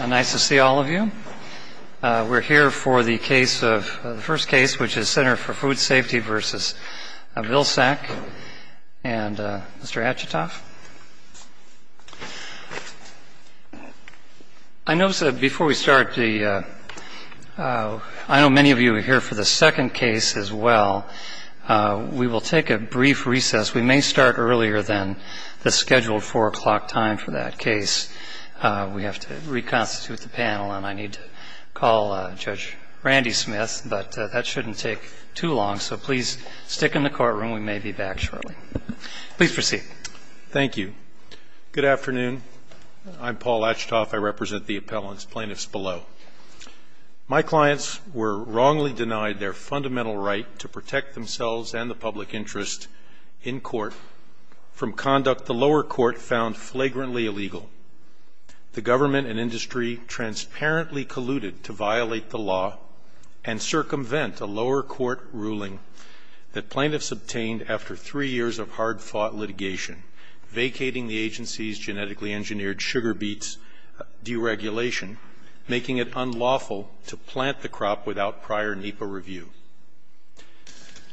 Nice to see all of you. We're here for the first case, which is Center for Food Safety v. Vilsack and Mr. Achatoff. I know many of you are here for the second case as well. We will take a brief recess. We may start earlier than the scheduled 4 o'clock time for that case. We have to reconstitute the panel and I need to call Judge Randy Smith, but that shouldn't take too long. So please stick in the courtroom. We may be back shortly. Please proceed. Thank you. Good afternoon. I'm Paul Achatoff. I represent the appellants, plaintiffs below. My clients were wrongly denied their fundamental right to protect themselves and the public interest in court from conduct the lower court found flagrantly illegal. The government and industry transparently colluded to violate the law and circumvent a lower court ruling that plaintiffs obtained after three years of hard-fought litigation, vacating the agency's genetically engineered sugar beets deregulation, making it unlawful to plant the crop without prior NEPA review.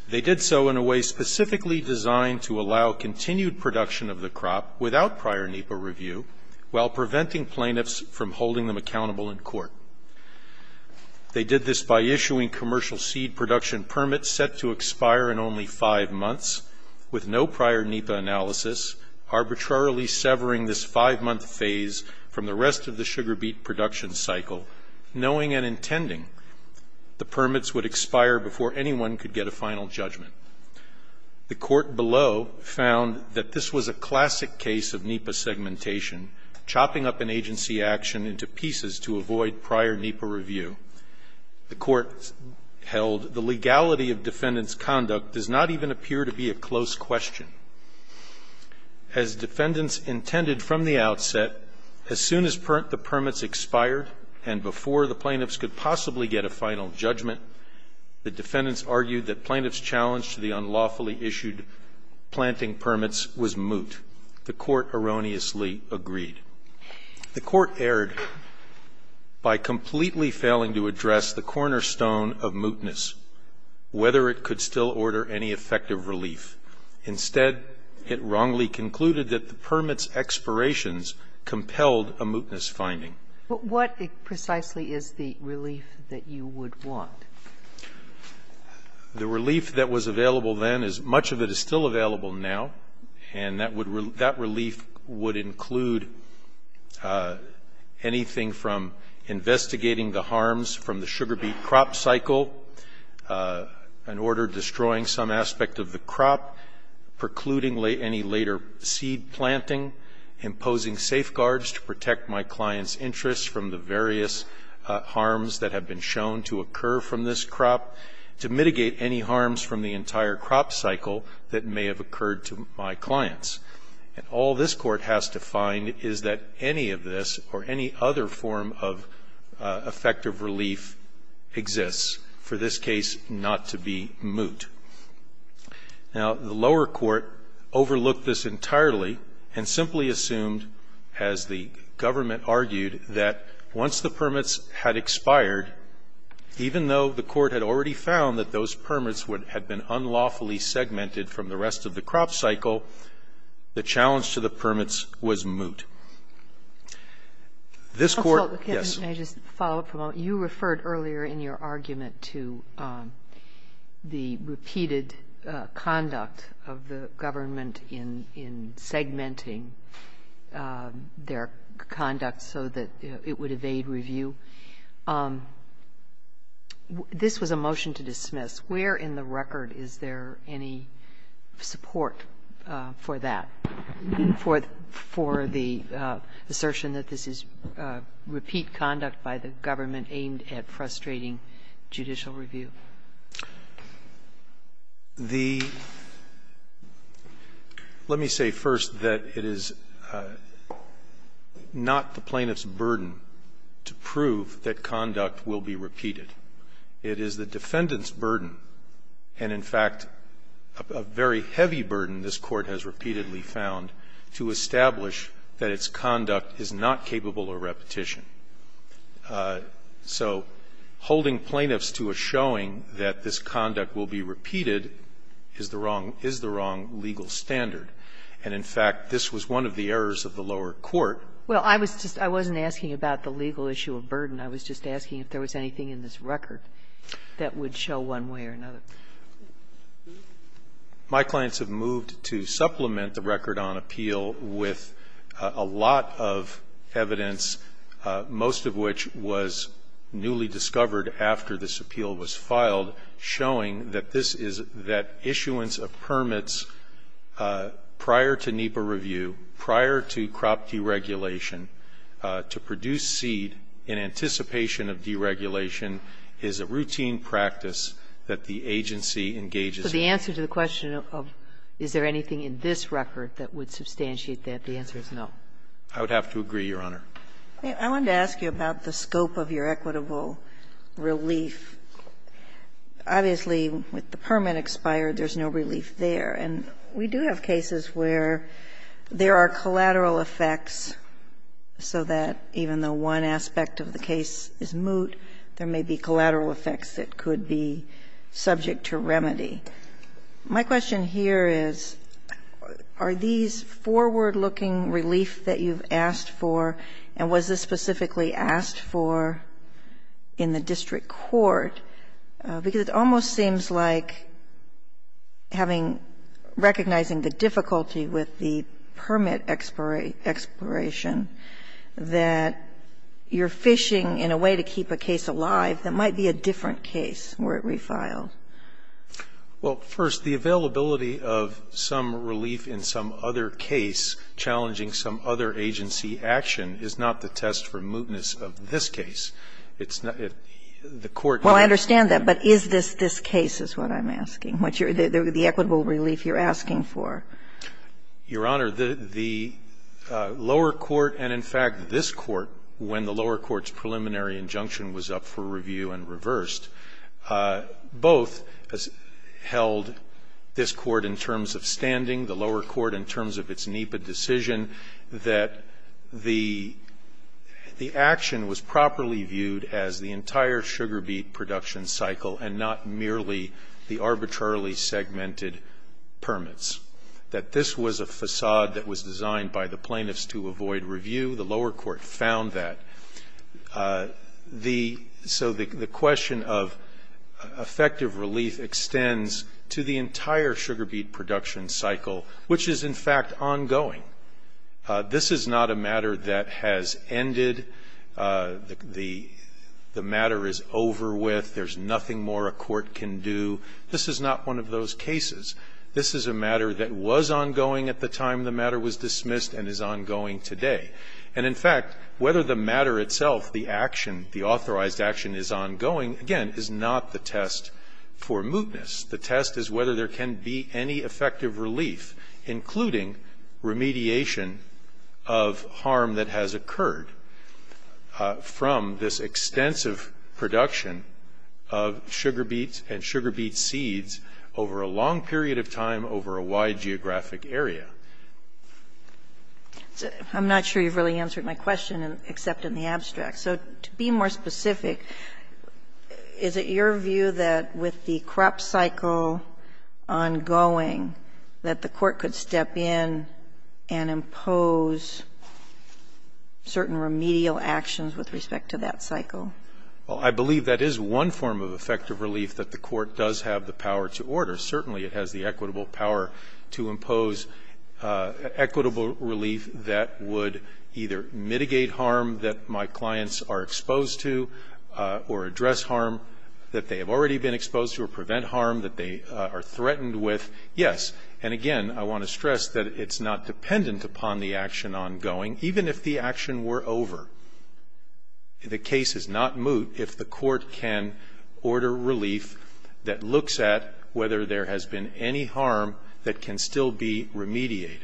They did so in a way specifically designed to allow continued production of the crop without prior NEPA review while preventing plaintiffs from holding them accountable in court. They did this by issuing commercial seed production permits set to expire in only five months with no prior NEPA analysis, arbitrarily severing this five-month phase from the rest of the sugar beet production cycle, knowing and intending the permits would expire before anyone could get a final judgment. The court below found that this was a classic case of NEPA segmentation, chopping up an agency action into pieces to avoid prior NEPA review. The court held the legality of defendants' conduct does not even appear to be a close question. As defendants intended from the outset, as soon as the permits expired and before the plaintiffs could possibly get a final judgment, the defendants argued that plaintiffs' challenge to the unlawfully issued planting permits was moot. The court erroneously agreed. The court erred by completely failing to address the cornerstone of mootness, whether it could still order any effective relief. Instead, it wrongly concluded that the permits' expirations compelled a mootness finding. But what precisely is the relief that you would want? The relief that was available then is much of it is still available now, and that would relief would include anything from investigating the harms from the sugar beet crop cycle, an order destroying some aspect of the crop, precluding any later seed planting, imposing safeguards to protect my client's interests from the various harms that have been shown to occur from this crop, to mitigate any harms from the entire crop cycle that may have occurred to my clients. And all this Court has to find is that any of this or any other form of effective relief exists for this case not to be moot. Now, the lower court overlooked this entirely and simply assumed, as the government argued, that once the permits had expired, even though the court had already found that those permits would have been unlawfully segmented from the rest of the crop cycle, the challenge to the permits was moot. This Court, yes. Sotomayor, can I just follow up for a moment? You referred earlier in your argument to the repeated conduct of the government in segmenting their conduct so that it would evade review. This was a motion to dismiss. Where in the record is there any support for that, for the assertion that this is repeat conduct by the government aimed at frustrating judicial review? The --" Let me say first that it is not the plaintiff's burden to prove that conduct will be repeated. It is the defendant's burden and, in fact, a very heavy burden this Court has repeatedly found to establish that its conduct is not capable of repetition. So holding plaintiffs to a showing that this conduct will be repeated is the wrong legal standard, and, in fact, this was one of the errors of the lower court. Well, I was just asking about the legal issue of burden. I was just asking if there was anything in this record that would show one way or another. My clients have moved to supplement the record on appeal with a lot of evidence, most of which was newly discovered after this appeal was filed, showing that this is that issuance of permits prior to NEPA review, prior to crop deregulation to produce seed in anticipation of deregulation is a routine practice that the agency engages in. So the answer to the question of is there anything in this record that would substantiate that, the answer is no. I would have to agree, Your Honor. I wanted to ask you about the scope of your equitable relief. Obviously, with the permit expired, there's no relief there. And we do have cases where there are collateral effects so that even though one aspect of the case is moot, there may be collateral effects that could be subject to remedy. My question here is, are these forward-looking relief that you've asked for, and was this specifically asked for in the district court? Because it almost seems like having, recognizing the difficulty with the permit expiration, that you're fishing in a way to keep a case alive that might be a different case where it refiled. Well, first, the availability of some relief in some other case challenging some other agency action is not the test for mootness of this case. It's not the court. Well, I understand that. But is this this case is what I'm asking, the equitable relief you're asking for. Your Honor, the lower court and, in fact, this court, when the lower court's preliminary injunction was up for review and reversed, both held this court in terms of standing, the lower court in terms of its NEPA decision, that the action was properly viewed as the entire sugar beet production cycle and not merely the arbitrarily segmented permits, that this was a facade that was designed by the plaintiffs to avoid review. The lower court found that. So the question of effective relief extends to the entire sugar beet production cycle, which is, in fact, ongoing. This is not a matter that has ended. The matter is over with. There's nothing more a court can do. This is not one of those cases. This is a matter that was ongoing at the time the matter was dismissed and is ongoing today. And, in fact, whether the matter itself, the action, the authorized action is ongoing, again, is not the test for mootness. The test is whether there can be any effective relief, including remediation of harm that has occurred from this extensive production of sugar beets and sugar beet seeds over a long period of time over a wide geographic area. I'm not sure you've really answered my question, except in the abstract. So to be more specific, is it your view that with the crop cycle ongoing, that the court could step in and impose certain remedial actions with respect to that cycle? Well, I believe that is one form of effective relief, that the court does have the power to order. Certainly, it has the equitable power to impose equitable relief that would either mitigate harm that my clients are exposed to or address harm that they have already been exposed to or prevent harm that they are threatened with. Yes. And, again, I want to stress that it's not dependent upon the action ongoing. Even if the action were over, the case is not moot if the court can order relief that looks at whether there has been any harm that can still be remediated.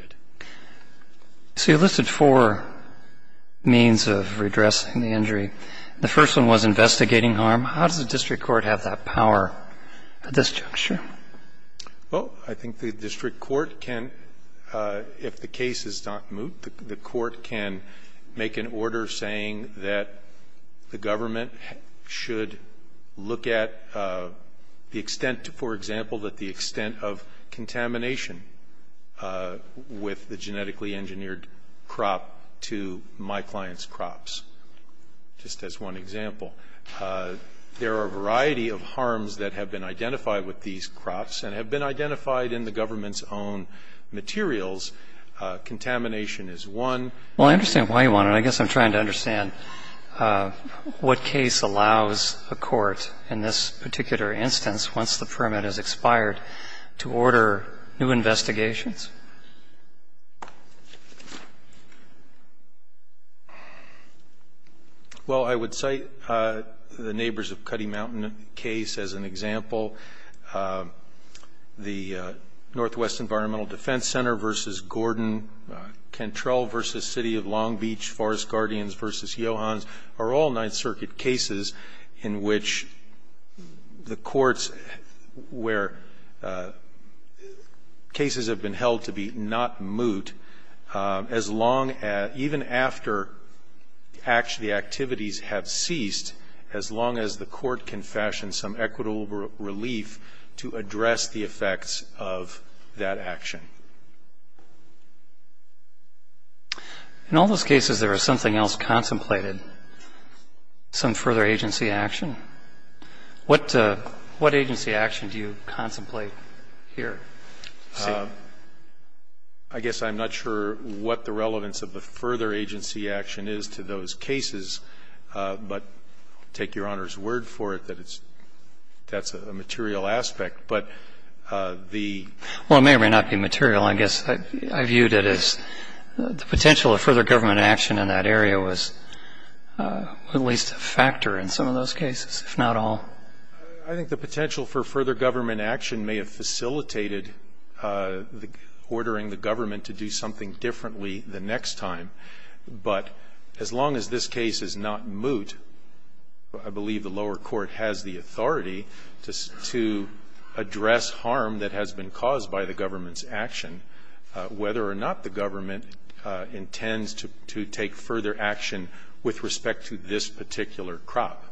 So you listed four means of redressing the injury. The first one was investigating harm. How does the district court have that power at this juncture? Well, I think the district court can, if the case is not moot, the court can make an order saying that the government should look at the extent, for example, that the genetically engineered crop to my client's crops, just as one example. There are a variety of harms that have been identified with these crops and have been identified in the government's own materials. Contamination is one. Well, I understand why you want it. I guess I'm trying to understand what case allows a court in this particular instance, once the permit has expired, to order new investigations? Well, I would cite the Neighbors of Cutty Mountain case as an example. The Northwest Environmental Defense Center v. Gordon, Cantrell v. City of Long Beach, Forest Guardians v. Johans are all Ninth Circuit cases in which the courts where cases have been held to be not moot, as long as, even after the activities have ceased, as long as the court can fashion some equitable relief to address the effects of that action. In all those cases, there was something else contemplated, some further agency action. What agency action do you contemplate here? I guess I'm not sure what the relevance of the further agency action is to those cases, but take Your Honor's word for it that that's a material aspect. But the ---- Well, it may or may not be material. I guess I viewed it as the potential of further government action in that area was at least a factor in some of those cases, if not all. I think the potential for further government action may have facilitated ordering the government to do something differently the next time. But as long as this case is not moot, I believe the lower court has the authority to address harm that has been caused by the government's action. Whether or not the government intends to take further action with respect to this particular crop.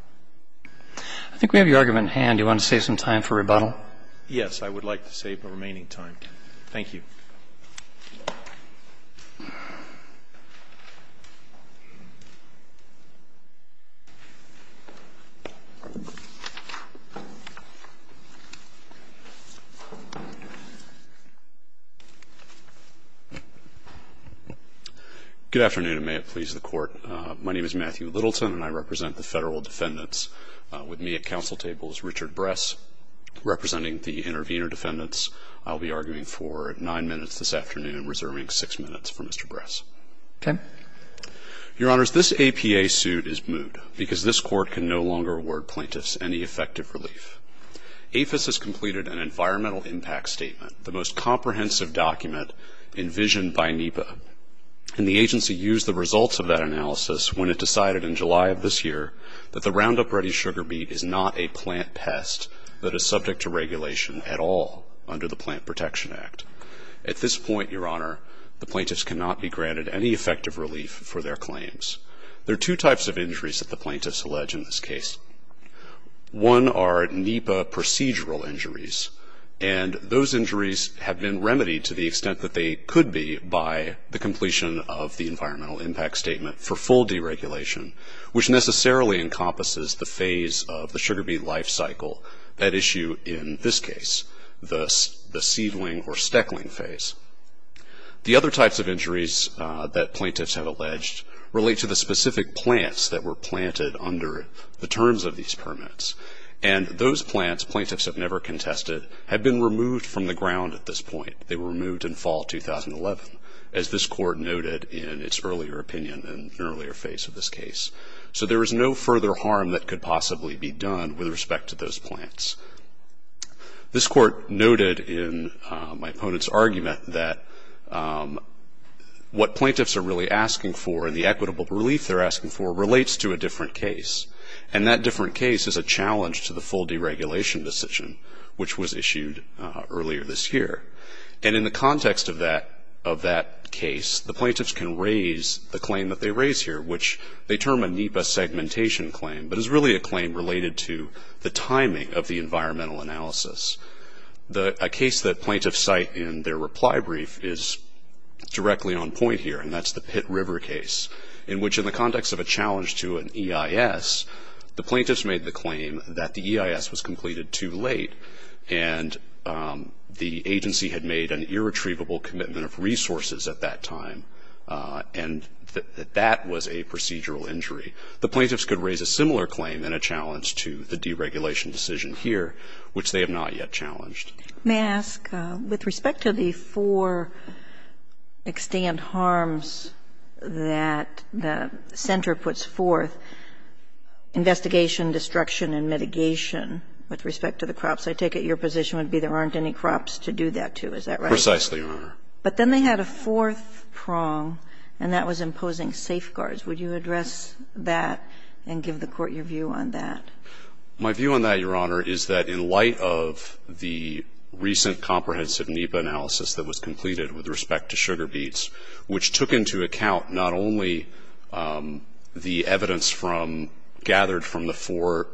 I think we have your argument in hand. Do you want to save some time for rebuttal? Yes. I would like to save the remaining time. Thank you. Good afternoon, and may it please the Court. My name is Matthew Littleton, and I represent the federal defendants. With me at counsel table is Richard Bress, representing the intervener defendants. I'll be arguing for nine minutes this afternoon, reserving six minutes for Mr. Bress. Okay. Your Honors, this APA suit is moot because this Court can no longer award plaintiffs any effective relief. APHIS has completed an environmental impact statement, the most comprehensive document envisioned by NEPA. And the agency used the results of that analysis when it decided in July of this year that the Roundup Ready sugar beet is not a plant pest that is subject to regulation at all under the Plant Protection Act. At this point, Your Honor, the plaintiffs cannot be granted any effective relief for their claims. There are two types of injuries that the plaintiffs allege in this case. One are NEPA procedural injuries, and those injuries have been remedied to the extent that they could be by the completion of the environmental impact statement for full deregulation, which necessarily encompasses the phase of the sugar beet life cycle, that issue in this case, the seedling or steckling phase. The other types of injuries that plaintiffs have alleged relate to the specific plants that were planted under the terms of these permits. And those plants, plaintiffs have never contested, have been removed from the ground at this point. They were removed in fall 2011, as this Court noted in its earlier opinion in an earlier phase of this case. So there is no further harm that could possibly be done with respect to those plants. This Court noted in my opponent's argument that what plaintiffs are really asking for and the equitable relief they're asking for relates to a different case, and that different case is a challenge to the full deregulation decision, which was issued earlier this year. And in the context of that case, the plaintiffs can raise the claim that they term a NEPA segmentation claim, but it's really a claim related to the timing of the environmental analysis. A case that plaintiffs cite in their reply brief is directly on point here, and that's the Pitt River case, in which in the context of a challenge to an EIS, the plaintiffs made the claim that the EIS was completed too late, and the agency had made an irretrievable commitment of resources at that time, and that that was a procedural injury. The plaintiffs could raise a similar claim and a challenge to the deregulation decision here, which they have not yet challenged. Kagan. May I ask, with respect to the four extant harms that the center puts forth, investigation, destruction and mitigation, with respect to the crops, I take it your position would be there aren't any crops to do that to. Is that right? Precisely, Your Honor. But then they had a fourth prong, and that was imposing safeguards. Would you address that and give the Court your view on that? My view on that, Your Honor, is that in light of the recent comprehensive NEPA analysis that was completed with respect to sugar beets, which took into account not only the evidence from, gathered from the four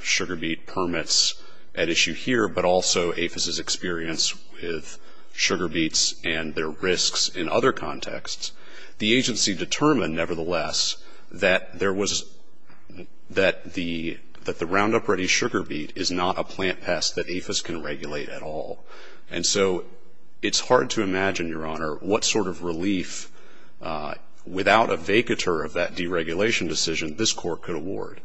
sugar beet permits at issue here, but also APHIS's experience with sugar beets and their risks in other contexts, the agency determined, nevertheless, that there was, that the Roundup Ready sugar beet is not a plant pest that APHIS can regulate at all. And so it's hard to imagine, Your Honor, what sort of relief, without a vacatur of that deregulation decision, this Court could award.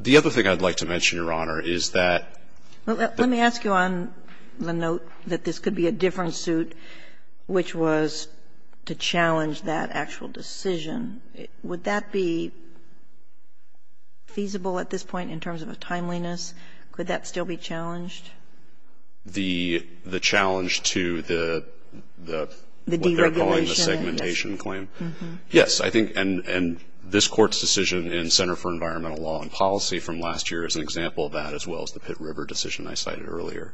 The other thing I'd like to mention, Your Honor, is that the ---- Well, let me ask you on the note that this could be a different suit which was to challenge that actual decision. Would that be feasible at this point in terms of a timeliness? Could that still be challenged? The challenge to the ---- The deregulation. What they're calling the segmentation claim. Yes. I think, and this Court's decision in Center for Environmental Law and Policy from last year is an example of that, as well as the Pitt River decision I cited earlier.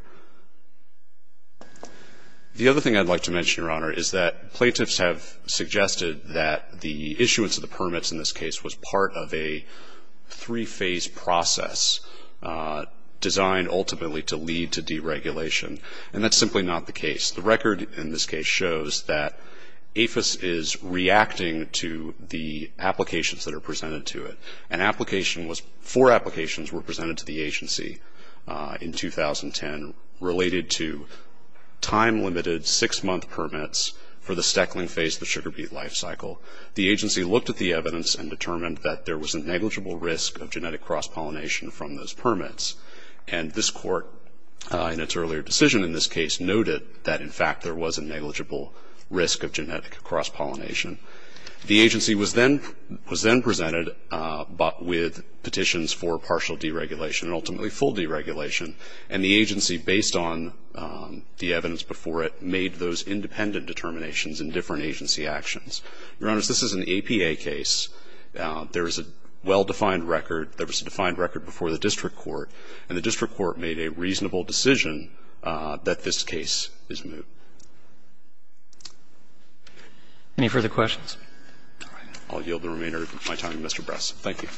The other thing I'd like to mention, Your Honor, is that plaintiffs have suggested that the issuance of the permits in this case was part of a three-phase process designed ultimately to lead to deregulation. And that's simply not the case. The record in this case shows that APHIS is reacting to the applications that are presented to it. An application was, four applications were presented to the agency in 2010 related to time-limited six-month permits for the stackling phase of the sugar beet life cycle. The agency looked at the evidence and determined that there was a negligible risk of genetic cross-pollination from those permits. And this Court, in its earlier decision in this case, noted that, in fact, there was a negligible risk of genetic cross-pollination. The agency was then presented with petitions for partial deregulation and ultimately full deregulation. And the agency, based on the evidence before it, made those independent determinations in different agency actions. Your Honor, this is an APA case. There is a well-defined record. There was a defined record before the district court. And the district court made a reasonable decision that this case is moot. Any further questions? All right. I'll yield the remainder of my time to Mr. Bress. Thank you.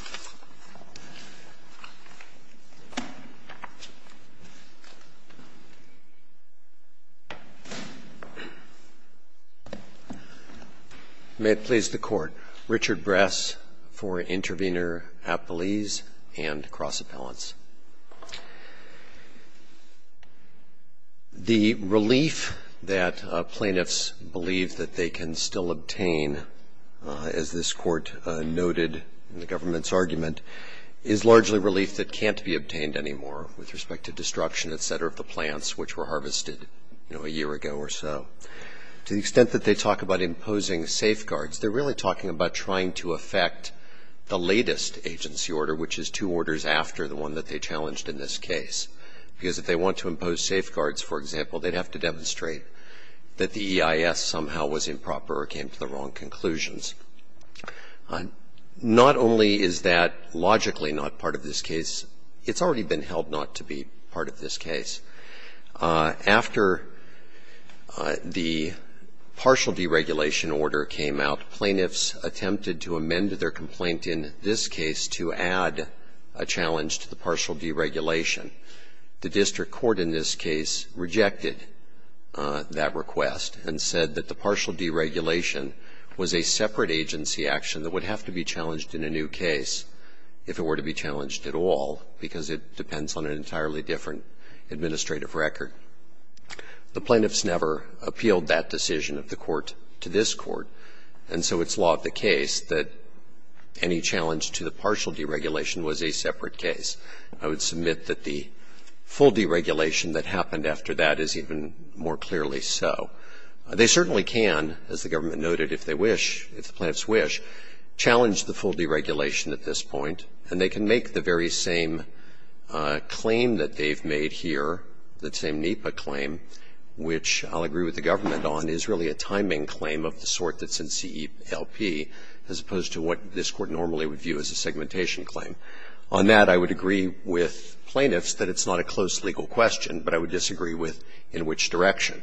May it please the Court. Richard Bress for Intervenor Appellees and Cross-Appellants. The relief that plaintiffs believe that they can still obtain, as this Court noted in the government's argument, is largely relief that can't be obtained anymore with respect to destruction, et cetera, of the plants which were harvested, you know, a year ago or so. To the extent that they talk about imposing safeguards, they're really talking about trying to affect the latest agency order, which is two orders after the one that they challenged in this case. Because if they want to impose safeguards, for example, they'd have to demonstrate that the EIS somehow was improper or came to the wrong conclusions. Not only is that logically not part of this case, it's already been held not to be part of this case. After the partial deregulation order came out, plaintiffs attempted to amend their complaint in this case to add a challenge to the partial deregulation. The district court in this case rejected that request and said that the partial deregulation was a separate agency action that would have to be challenged in a new case if it were to be challenged at all, because it depends on an entirely different administrative record. The plaintiffs never appealed that decision of the Court to this Court, and so it's law of the case that any challenge to the partial deregulation was a separate case. I would submit that the full deregulation that happened after that is even more clearly so. They certainly can, as the government noted, if they wish, if the plaintiffs wish, challenge the full deregulation at this point, and they can make the very same claim that they've made here, that same NEPA claim, which I'll agree with the government on, is really a timing claim of the sort that's in CELP as opposed to what this Court normally would view as a segmentation claim. On that, I would agree with plaintiffs that it's not a close legal question, but I would disagree with in which direction.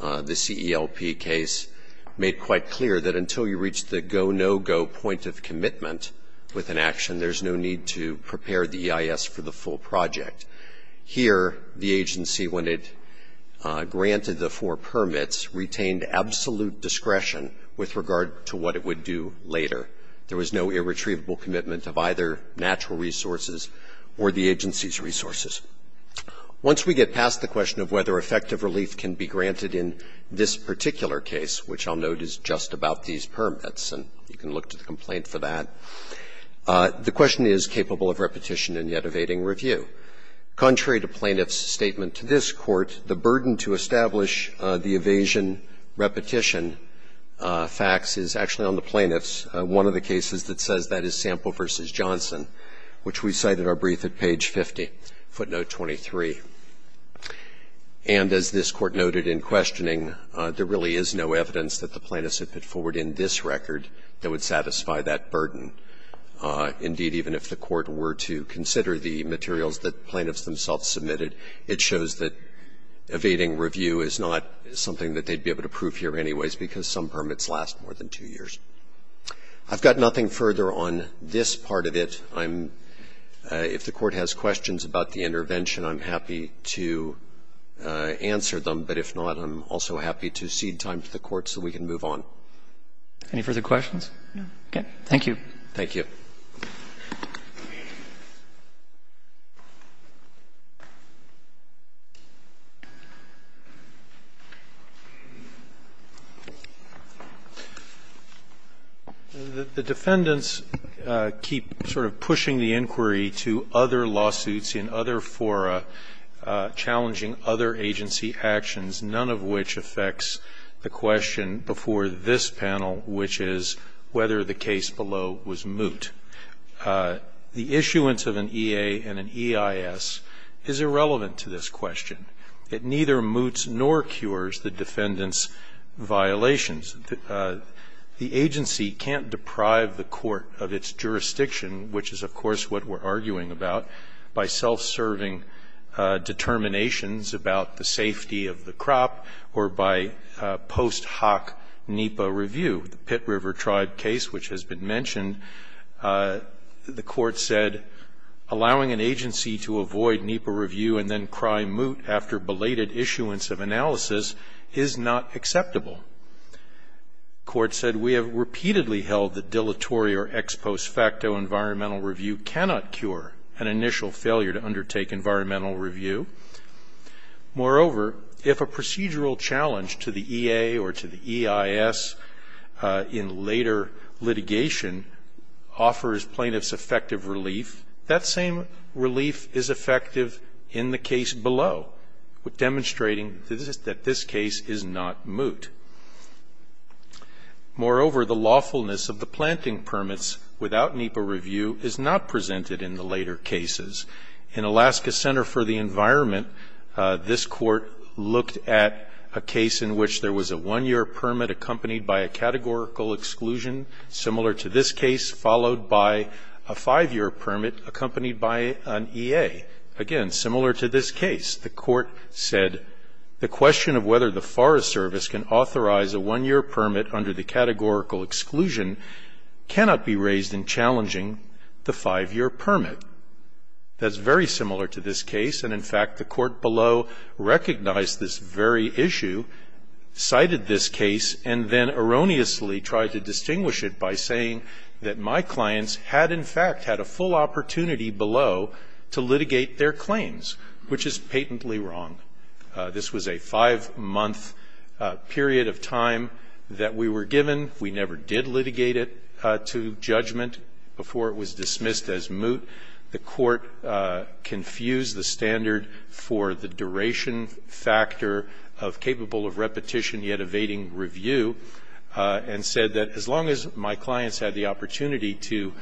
The CELP case made quite clear that until you reach the go, no-go point of commitment with an action, there's no need to prepare the EIS for the full project. Here, the agency, when it granted the four permits, retained absolute discretion with regard to what it would do later. There was no irretrievable commitment of either natural resources or the agency's resources. Once we get past the question of whether effective relief can be granted in this particular case, which I'll note is just about these permits, and you can look to the complaint for that, the question is capable of repetition and yet evading review. Contrary to plaintiffs' statement to this Court, the burden to establish the evasion repetition facts is actually on the plaintiffs. One of the cases that says that is Sample v. Johnson, which we cite in our brief at page 50, footnote 23. And as this Court noted in questioning, there really is no evidence that the plaintiffs have put forward in this record that would satisfy that burden. Indeed, even if the Court were to consider the materials that plaintiffs themselves submitted, it shows that evading review is not something that they would be able to prove here anyways, because some permits last more than two years. I've got nothing further on this part of it. I'm — if the Court has questions about the intervention, I'm happy to answer them, but if not, I'm also happy to cede time to the Court so we can move on. Any further questions? Okay. Thank you. Roberts. The defendants keep sort of pushing the inquiry to other lawsuits in other fora, challenging other agency actions, none of which affects the question before this point. The issuance of an EA and an EIS is irrelevant to this question. It neither moots nor cures the defendants' violations. The agency can't deprive the Court of its jurisdiction, which is, of course, what we're arguing about, by self-serving determinations about the safety of the crop or by post hoc NEPA review. The Pitt River Tribe case, which has been mentioned, the Court said, allowing an agency to avoid NEPA review and then cry moot after belated issuance of analysis is not acceptable. The Court said, We have repeatedly held that dilatory or ex post facto environmental review cannot cure an initial failure to undertake environmental review. Moreover, if a procedural challenge to the EA or to the EIS in later litigation offers plaintiffs effective relief, that same relief is effective in the case below, demonstrating that this case is not moot. Moreover, the lawfulness of the planting permits without NEPA review is not presented in the later cases. In Alaska Center for the Environment, this Court looked at a case in which there was a one-year permit accompanied by a categorical exclusion, similar to this case, followed by a five-year permit accompanied by an EA. Again, similar to this case, the Court said, The question of whether the Forest Service can authorize a one-year permit under the categorical exclusion cannot be raised in challenging the five-year permit. That's very similar to this case, and in fact, the Court below recognized this very issue, cited this case, and then erroneously tried to distinguish it by saying that my clients had in fact had a full opportunity below to litigate their claims, which is patently wrong. This was a five-month period of time that we were given. We never did litigate it to judgment before it was dismissed as moot. The Court confused the standard for the duration factor of capable of repetition yet evading review and said that as long as my clients had the opportunity to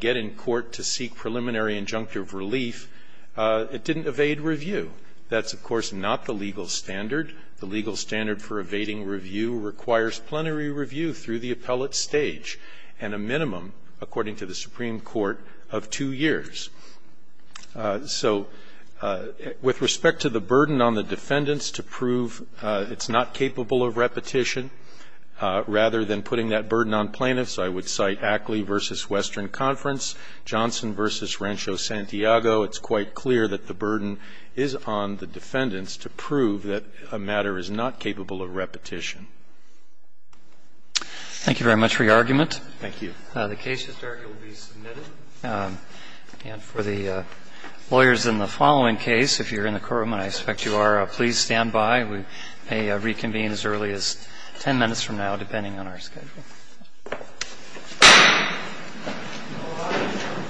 get in court to seek preliminary injunctive relief, it didn't evade review. That's, of course, not the legal standard. The legal standard for evading review requires plenary review through the appellate stage and a minimum, according to the Supreme Court, of two years. So with respect to the burden on the defendants to prove it's not capable of repetition, rather than putting that burden on plaintiffs, I would cite Ackley v. Western Conference, Johnson v. Rancho Santiago. It's quite clear that the burden is on the defendants to prove that a matter is not capable of repetition. Thank you very much for your argument. Thank you. The case history will be submitted. And for the lawyers in the following case, if you're in the courtroom, and I expect you are, please stand by. We may reconvene as early as 10 minutes from now, depending on our schedule. Thank you.